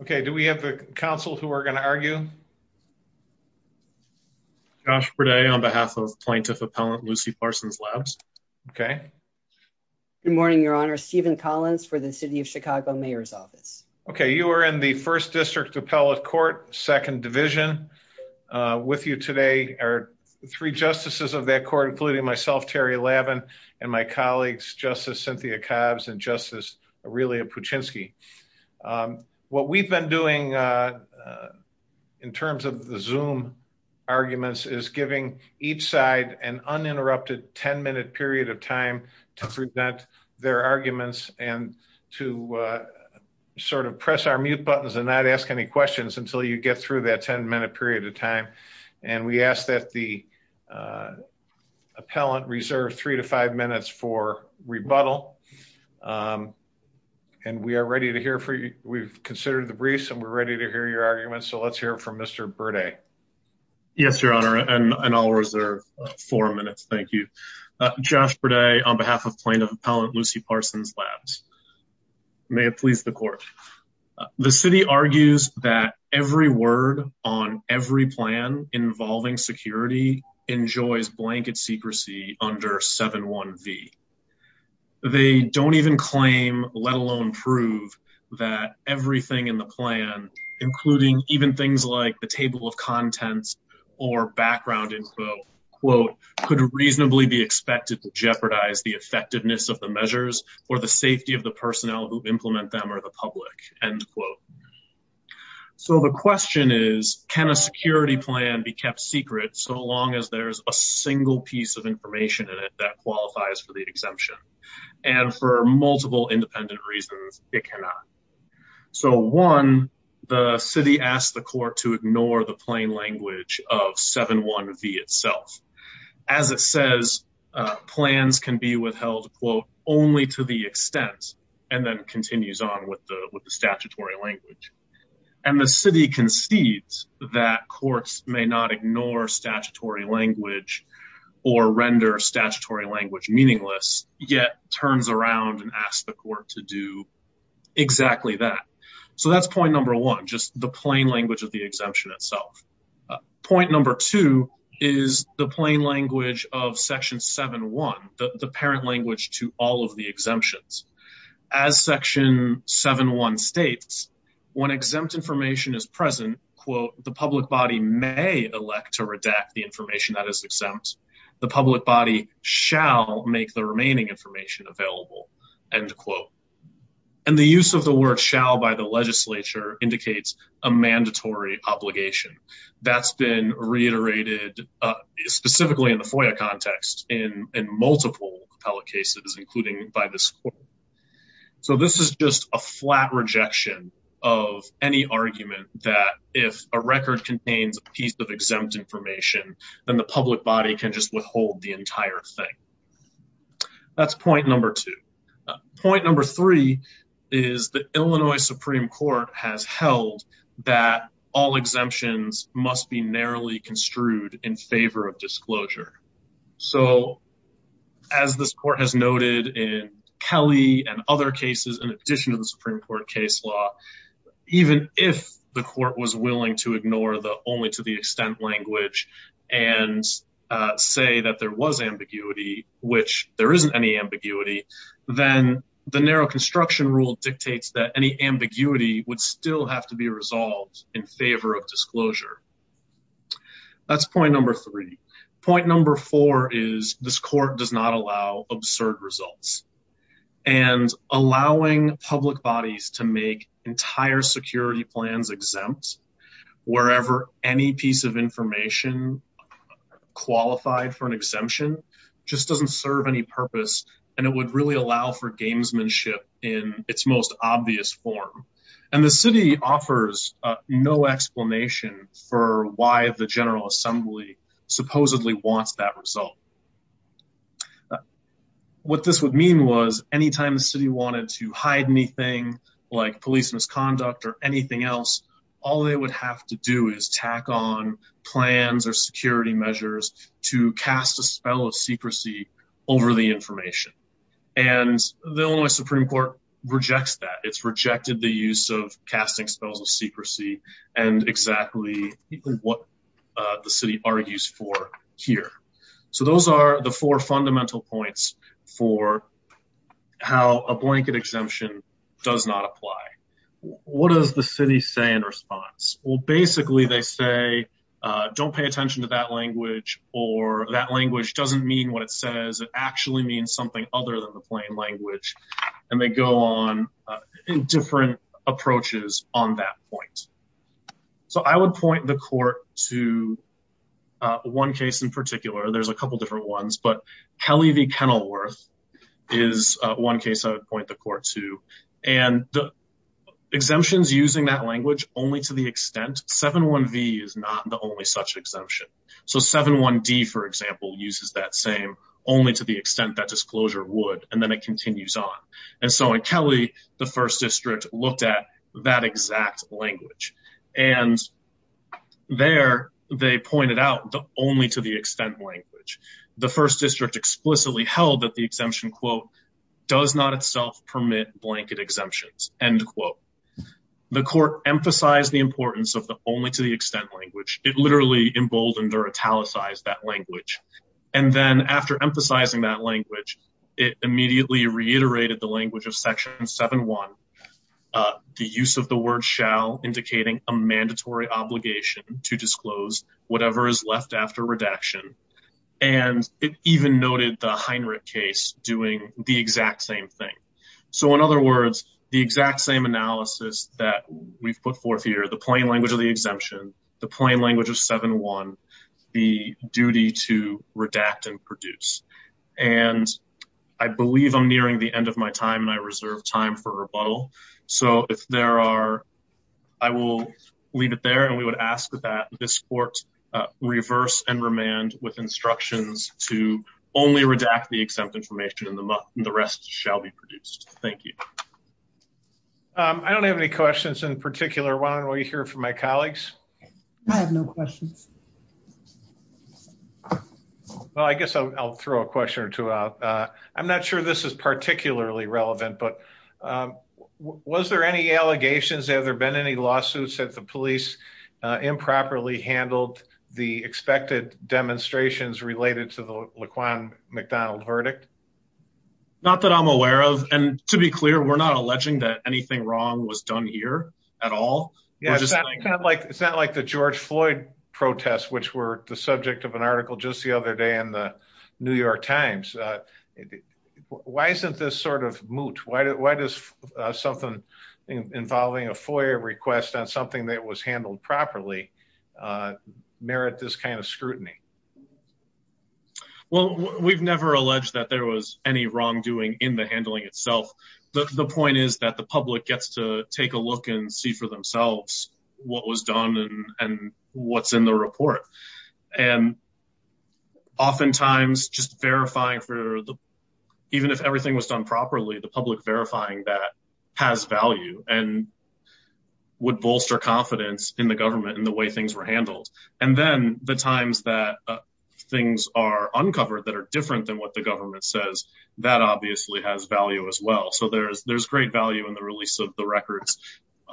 Okay, do we have a council who are going to argue? Josh Berday on behalf of Plaintiff Appellant Lucy Parsons-Labs. Okay. Good morning, Your Honor. Stephen Collins for the City of Chicago Mayor's Office. Okay, you are in the 1st District Appellate Court, 2nd Division. With you today are three justices of that court, including myself, Terry Lavin, and my colleagues, Justice Cynthia Cobbs and Justice Aurelia Puchinski. What we've been doing in terms of the Zoom arguments is giving each side an uninterrupted 10-minute period of time to present their arguments and to sort of press our mute buttons and not ask any questions until you get through that 10-minute period of time. And we ask that the appellant reserve three to five minutes for rebuttal. And we are ready to hear from you. We've considered the briefs and we're ready to hear your arguments. So let's hear from Mr. Berday. Yes, Your Honor, and I'll reserve four minutes. Thank you. Josh Berday on behalf of Plaintiff Appellant Lucy Parsons-Labs. May it please the court. The city argues that every word on every plan involving security enjoys blanket secrecy under 7-1-V. They don't even claim, let alone prove, that everything in the plan, including even things like the table of contents or background info, quote, could reasonably be expected to jeopardize the effectiveness of the measures for the safety of the personnel who implement them or the public, end quote. So the question is, can a security plan be kept secret so long as there's a single piece of information in it that qualifies for the exemption? And for multiple independent reasons, it cannot. So one, the city asked the court to ignore the plain language of 7-1-V itself. As it says, plans can be withheld, quote, only to the extent and then continues on with the statutory language. And the city concedes that courts may not ignore statutory language or render statutory language meaningless, yet turns around and asks the court to do exactly that. So that's point number one, just the plain language of the exemption itself. Point number two is the plain language of Section 7-1, the parent language to all of the exemptions. As Section 7-1 states, when exempt information is present, quote, the public body may elect to redact the information that is exempt. The public body shall make the remaining information available, end quote. And the use of the word shall by the legislature indicates a mandatory obligation. That's been reiterated specifically in the FOIA context in multiple appellate cases, including by this court. So this is just a flat rejection of any argument that if a record contains a piece of exempt information, then the public body can just withhold the entire thing. That's point number two. Point number three is the Illinois Supreme Court has held that all exemptions must be narrowly construed in favor of disclosure. So as this court has noted in Kelly and other cases, in addition to the Supreme Court case law, even if the court was willing to ignore the only to the extent language and say that there was ambiguity, which there isn't any ambiguity, then the narrow construction rule dictates that any ambiguity would still have to be resolved in favor of disclosure. That's point number three. Point number four is this court does not allow absurd results and allowing public bodies to make entire security plans exempt wherever any piece of information qualified for an exemption just doesn't serve any purpose. And it would really allow for gamesmanship in its most obvious form. And the city offers no explanation for why the General Assembly supposedly wants that result. What this would mean was anytime the city wanted to hide anything like police misconduct or anything else, all they would have to do is tack on plans or security measures to cast a spell of secrecy over the information. And the only Supreme Court rejects that it's rejected the use of casting spells of secrecy. And exactly what the city argues for here. So those are the four fundamental points for how a blanket exemption does not apply. What does the city say in response? Well, basically, they say, don't pay attention to that language or that language doesn't mean what it says. It actually means something other than the plain language. And they go on in different approaches on that point. So I would point the court to one case in particular. There's a couple of different ones. But Kelly v. Kenilworth is one case I would point the court to. And the exemptions using that language only to the extent 7-1-V is not the only such exemption. So 7-1-D, for example, uses that same only to the extent that disclosure would. And then it continues on. And so in Kelly, the 1st District looked at that exact language and there they pointed out the only to the extent language. The 1st District explicitly held that the exemption, quote, does not itself permit blanket exemptions, end quote. The court emphasized the importance of the only to the extent language. It literally emboldened or italicized that language. And then after emphasizing that language, it immediately reiterated the language of Section 7-1, the use of the word shall indicating a mandatory obligation to disclose whatever is left after redaction. And it even noted the Heinrich case doing the exact same thing. So in other words, the exact same analysis that we've put forth here, the plain language of the exemption, the plain language of 7-1, the duty to redact and produce. And I believe I'm nearing the end of my time and I reserve time for rebuttal. So if there are, I will leave it there. And we would ask that this court reverse and remand with instructions to only redact the exempt information and the rest shall be produced. Thank you. I don't have any questions in particular. Why don't we hear from my colleagues? I have no questions. Well, I guess I'll throw a question or two out. I'm not sure this is particularly relevant, but was there any allegations? Have there been any lawsuits that the police improperly handled the expected demonstrations related to the Laquan McDonald verdict? Not that I'm aware of. And to be clear, we're not alleging that anything wrong was done here at all. It's not like the George Floyd protests, which were the subject of an article just the other day in the New York Times. Why isn't this sort of moot? Why does something involving a FOIA request on something that was handled properly merit this kind of scrutiny? Well, we've never alleged that there was any wrongdoing in the handling itself. The point is that the public gets to take a look and see for themselves what was done and what's in the report. And oftentimes just verifying for even if everything was done properly, the public verifying that has value and would bolster confidence in the government and the way things were handled. And then the times that things are uncovered that are different than what the government says, that obviously has value as well. So there's great value in the release of the records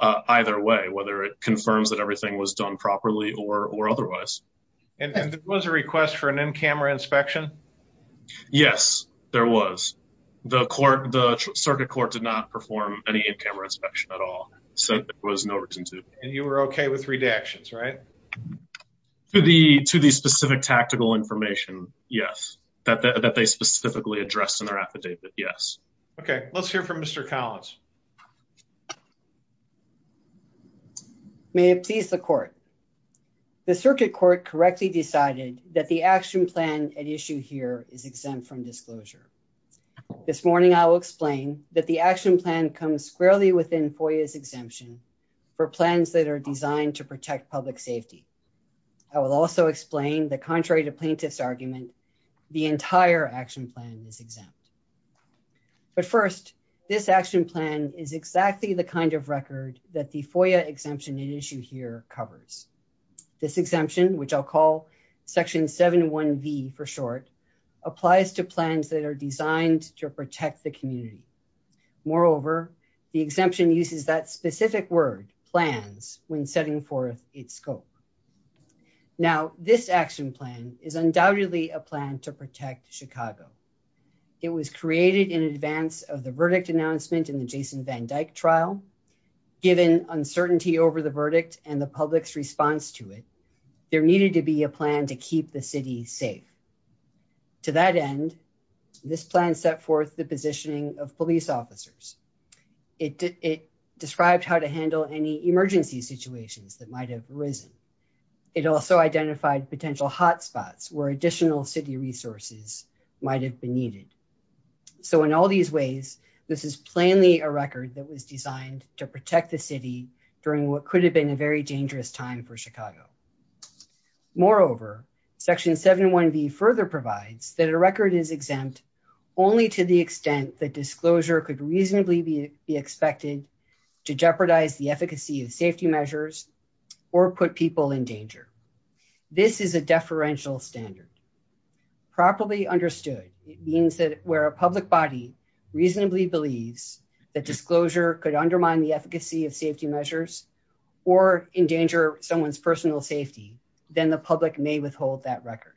either way, whether it confirms that everything was done properly or otherwise. And there was a request for an in-camera inspection? Yes, there was. The circuit court did not perform any in-camera inspection at all, so there was no reason to. And you were okay with redactions, right? To the specific tactical information, yes. That they specifically addressed in their affidavit, yes. Okay, let's hear from Mr. Collins. May it please the court. The circuit court correctly decided that the action plan at issue here is exempt from disclosure. This morning, I will explain that the action plan comes squarely within FOIA's exemption for plans that are designed to protect public safety. I will also explain that contrary to plaintiff's argument, the entire action plan is exempt. But first, this action plan is exactly the kind of record that the FOIA exemption at issue here covers. This exemption, which I'll call Section 71V for short, applies to plans that are designed to protect the community. Moreover, the exemption uses that specific word, plans, when setting forth its scope. Now, this action plan is undoubtedly a plan to protect Chicago. It was created in advance of the verdict announcement in the Jason Van Dyke trial. Given uncertainty over the verdict and the public's response to it, there needed to be a plan to keep the city safe. To that end, this plan set forth the positioning of police officers. It described how to handle any emergency situations that might have arisen. It also identified potential hotspots where additional city resources might have been needed. So in all these ways, this is plainly a record that was designed to protect the city during what could have been a very dangerous time for Chicago. Moreover, Section 71V further provides that a record is exempt only to the extent that disclosure could reasonably be expected to jeopardize the efficacy of safety measures or put people in danger. This is a deferential standard. Properly understood, it means that where a public body reasonably believes that disclosure could undermine the efficacy of safety measures or endanger someone's personal safety, then the public may withhold that record.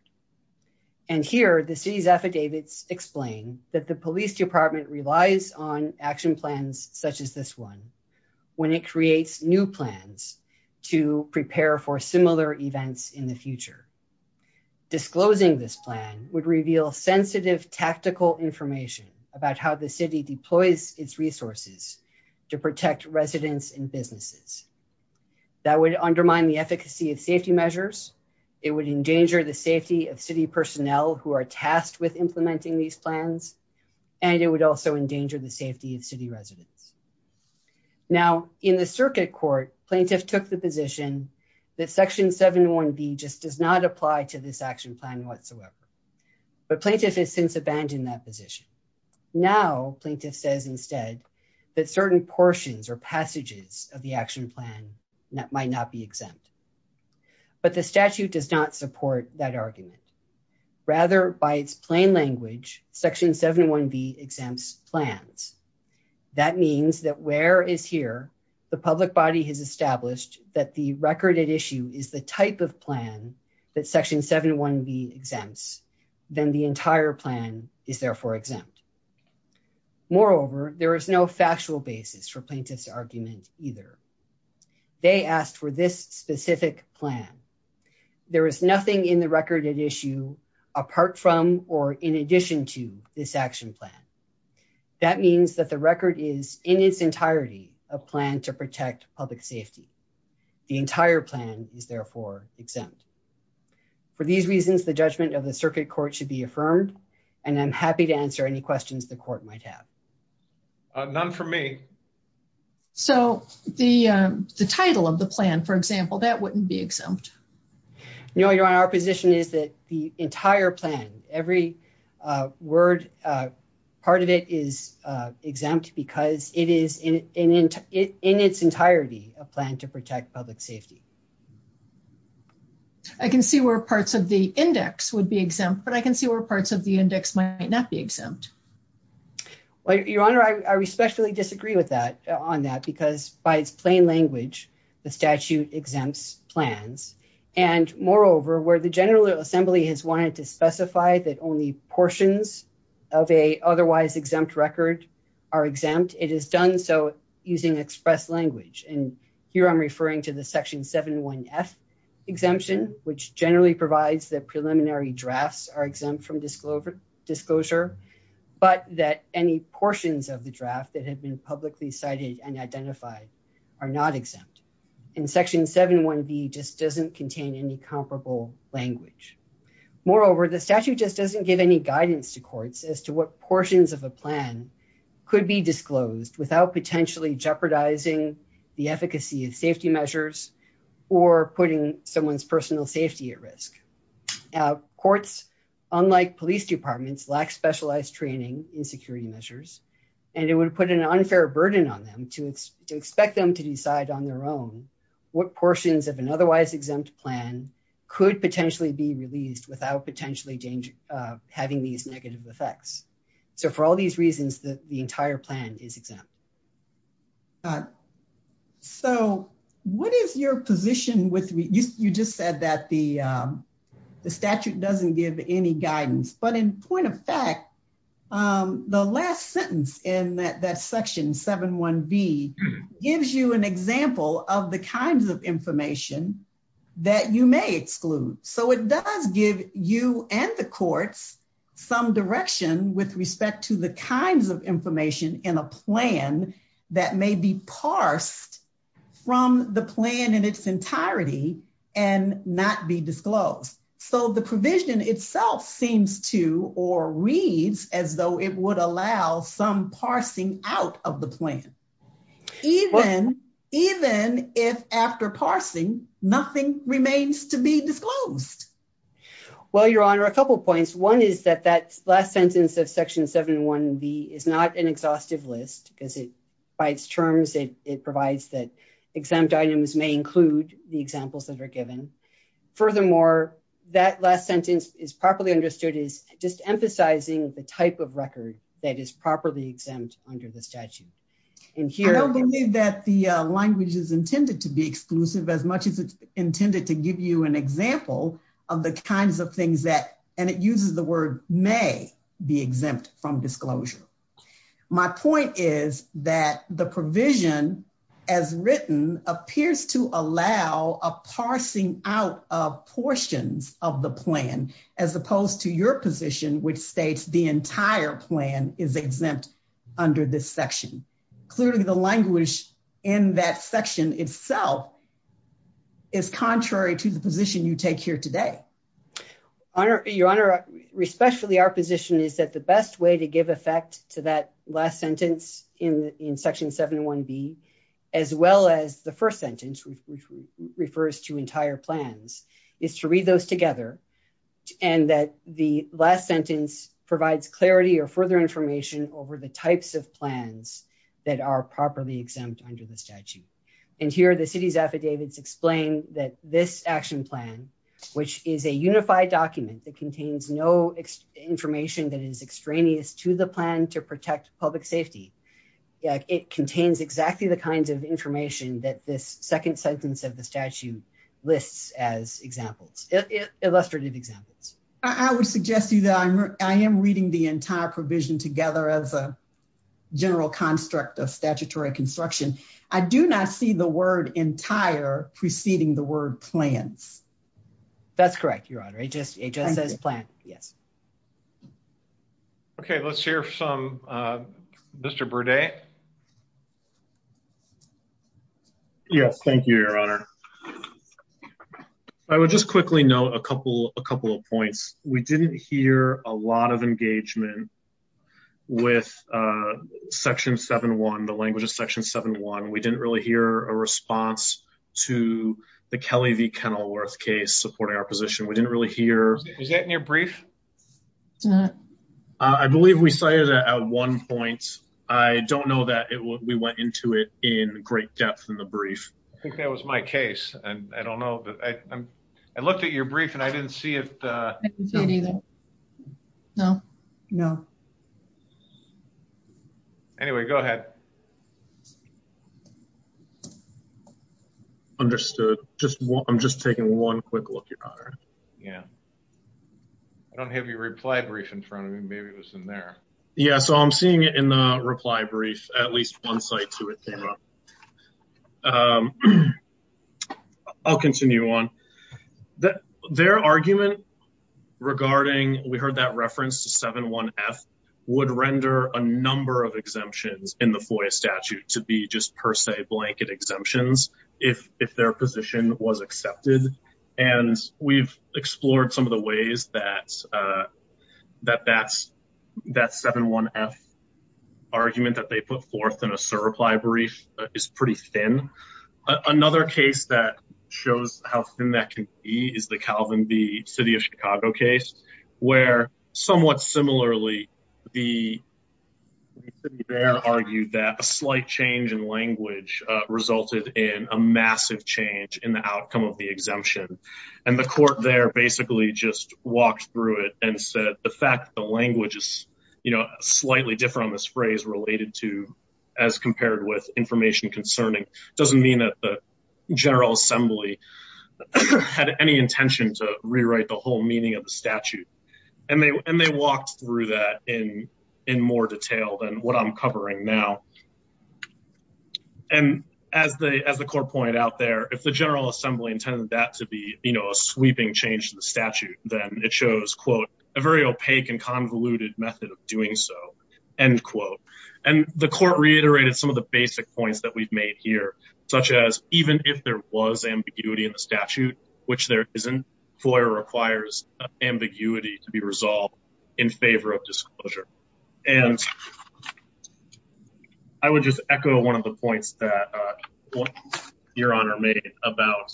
And here, the city's affidavits explain that the police department relies on action plans such as this one when it creates new plans to prepare for similar events in the future. Disclosing this plan would reveal sensitive tactical information about how the city deploys its resources to protect residents and businesses. That would undermine the efficacy of safety measures, it would endanger the safety of city personnel who are tasked with implementing these plans, and it would also endanger the safety of city residents. Now, in the circuit court, plaintiff took the position that Section 71B just does not apply to this action plan whatsoever. But plaintiff has since abandoned that position. Now, plaintiff says instead that certain portions or passages of the action plan might not be exempt. But the statute does not support that argument. Rather, by its plain language, Section 71B exempts plans. That means that where is here, the public body has established that the record at issue is the type of plan that Section 71B exempts, then the entire plan is therefore exempt. Moreover, there is no factual basis for plaintiff's argument either. They asked for this specific plan. There is nothing in the record at issue apart from or in addition to this action plan. That means that the record is in its entirety a plan to protect public safety. The entire plan is therefore exempt. For these reasons, the judgment of the circuit court should be affirmed, and I'm happy to answer any questions the court might have. None for me. So the title of the plan, for example, that wouldn't be exempt. No, Your Honor. Our position is that the entire plan, every word, part of it is exempt because it is in its entirety a plan to protect public safety. I can see where parts of the index would be exempt, but I can see where parts of the index might not be exempt. Your Honor, I respectfully disagree on that because by its plain language, the statute exempts plans. Moreover, where the General Assembly has wanted to specify that only portions of an otherwise exempt record are exempt, it has done so using express language. And here I'm referring to the Section 7.1.F exemption, which generally provides that preliminary drafts are exempt from disclosure, but that any portions of the draft that have been publicly cited and identified are not exempt. And Section 7.1.B just doesn't contain any comparable language. Moreover, the statute just doesn't give any guidance to courts as to what portions of a plan could be disclosed without potentially jeopardizing the efficacy of safety measures or putting someone's personal safety at risk. Courts, unlike police departments, lack specialized training in security measures, and it would put an unfair burden on them to expect them to decide on their own what portions of an otherwise exempt plan could potentially be released without potentially having these negative effects. So for all these reasons, the entire plan is exempt. So what is your position with, you just said that the statute doesn't give any guidance. But in point of fact, the last sentence in that Section 7.1.B gives you an example of the kinds of information that you may exclude. So it does give you and the courts some direction with respect to the kinds of information in a plan that may be parsed from the plan in its entirety and not be disclosed. So the provision itself seems to or reads as though it would allow some parsing out of the plan. Even if after parsing, nothing remains to be disclosed. Well, Your Honor, a couple points. One is that that last sentence of Section 7.1.B is not an exhaustive list because it by its terms, it provides that exempt items may include the examples that are given. Furthermore, that last sentence is properly understood is just emphasizing the type of record that is properly exempt under the statute. I don't believe that the language is intended to be exclusive as much as it's intended to give you an example of the kinds of things that, and it uses the word may be exempt from disclosure. My point is that the provision as written appears to allow a parsing out of portions of the plan, as opposed to your position, which states the entire plan is exempt under this section. Clearly the language in that section itself is contrary to the position you take here today. Your Honor, respectfully, our position is that the best way to give effect to that last sentence in Section 7.1.B, as well as the first sentence, which refers to entire plans, is to read those together. And that the last sentence provides clarity or further information over the types of plans that are properly exempt under the statute. And here the city's affidavits explain that this action plan, which is a unified document that contains no information that is extraneous to the plan to protect public safety. It contains exactly the kinds of information that this second sentence of the statute lists as examples, illustrative examples. I would suggest to you that I am reading the entire provision together as a general construct of statutory construction. I do not see the word entire preceding the word plans. That's correct, Your Honor. It just says plan. Yes. Okay, let's hear from Mr. Burdett. Yes, thank you, Your Honor. I would just quickly note a couple of points. We didn't hear a lot of engagement with Section 7.1, the language of Section 7.1. We didn't really hear a response to the Kelly v. Kenilworth case supporting our position. We didn't really hear... Was that in your brief? I believe we cited it at one point. I don't know that we went into it in great depth in the brief. I think that was my case. I looked at your brief and I didn't see it. I didn't see it either. No. Anyway, go ahead. Understood. I'm just taking one quick look, Your Honor. I don't have your reply brief in front of me. Maybe it was in there. Yeah, so I'm seeing it in the reply brief. At least one site to it came up. I'll continue on. Their argument regarding... We heard that reference to 7.1.F would render a number of exemptions in the FOIA statute to be just per se blanket exemptions if their position was accepted. And we've explored some of the ways that that 7.1.F argument that they put forth in a CERB reply brief is pretty thin. Another case that shows how thin that can be is the Calvin B. City of Chicago case, where somewhat similarly, the city there argued that a slight change in language resulted in a massive change in the outcome of the exemption. And the court there basically just walked through it and said the fact that the language is slightly different on this phrase related to as compared with information concerning doesn't mean that the General Assembly had any intention to rewrite the whole meaning of the statute. And they walked through that in more detail than what I'm covering now. And as the court pointed out there, if the General Assembly intended that to be a sweeping change to the statute, then it shows, quote, a very opaque and convoluted method of doing so, end quote. And the court reiterated some of the basic points that we've made here, such as even if there was ambiguity in the statute, which there isn't, FOIA requires ambiguity to be resolved in favor of disclosure. And I would just echo one of the points that Your Honor made about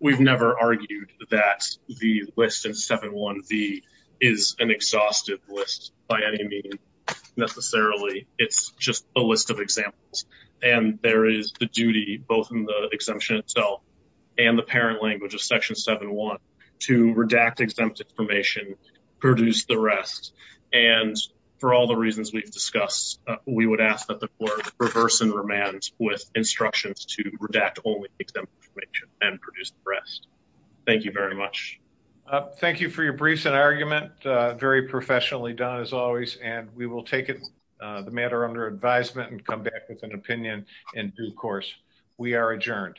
we've never argued that the list in 7-1-V is an exhaustive list by any means necessarily. It's just a list of examples, and there is the duty both in the exemption itself and the parent language of Section 7-1 to redact exempt information, produce the rest. And for all the reasons we've discussed, we would ask that the court reverse and remand with instructions to redact only exempt information and produce the rest. Thank you very much. Thank you for your briefs and argument, very professionally done as always, and we will take the matter under advisement and come back with an opinion in due course. We are adjourned.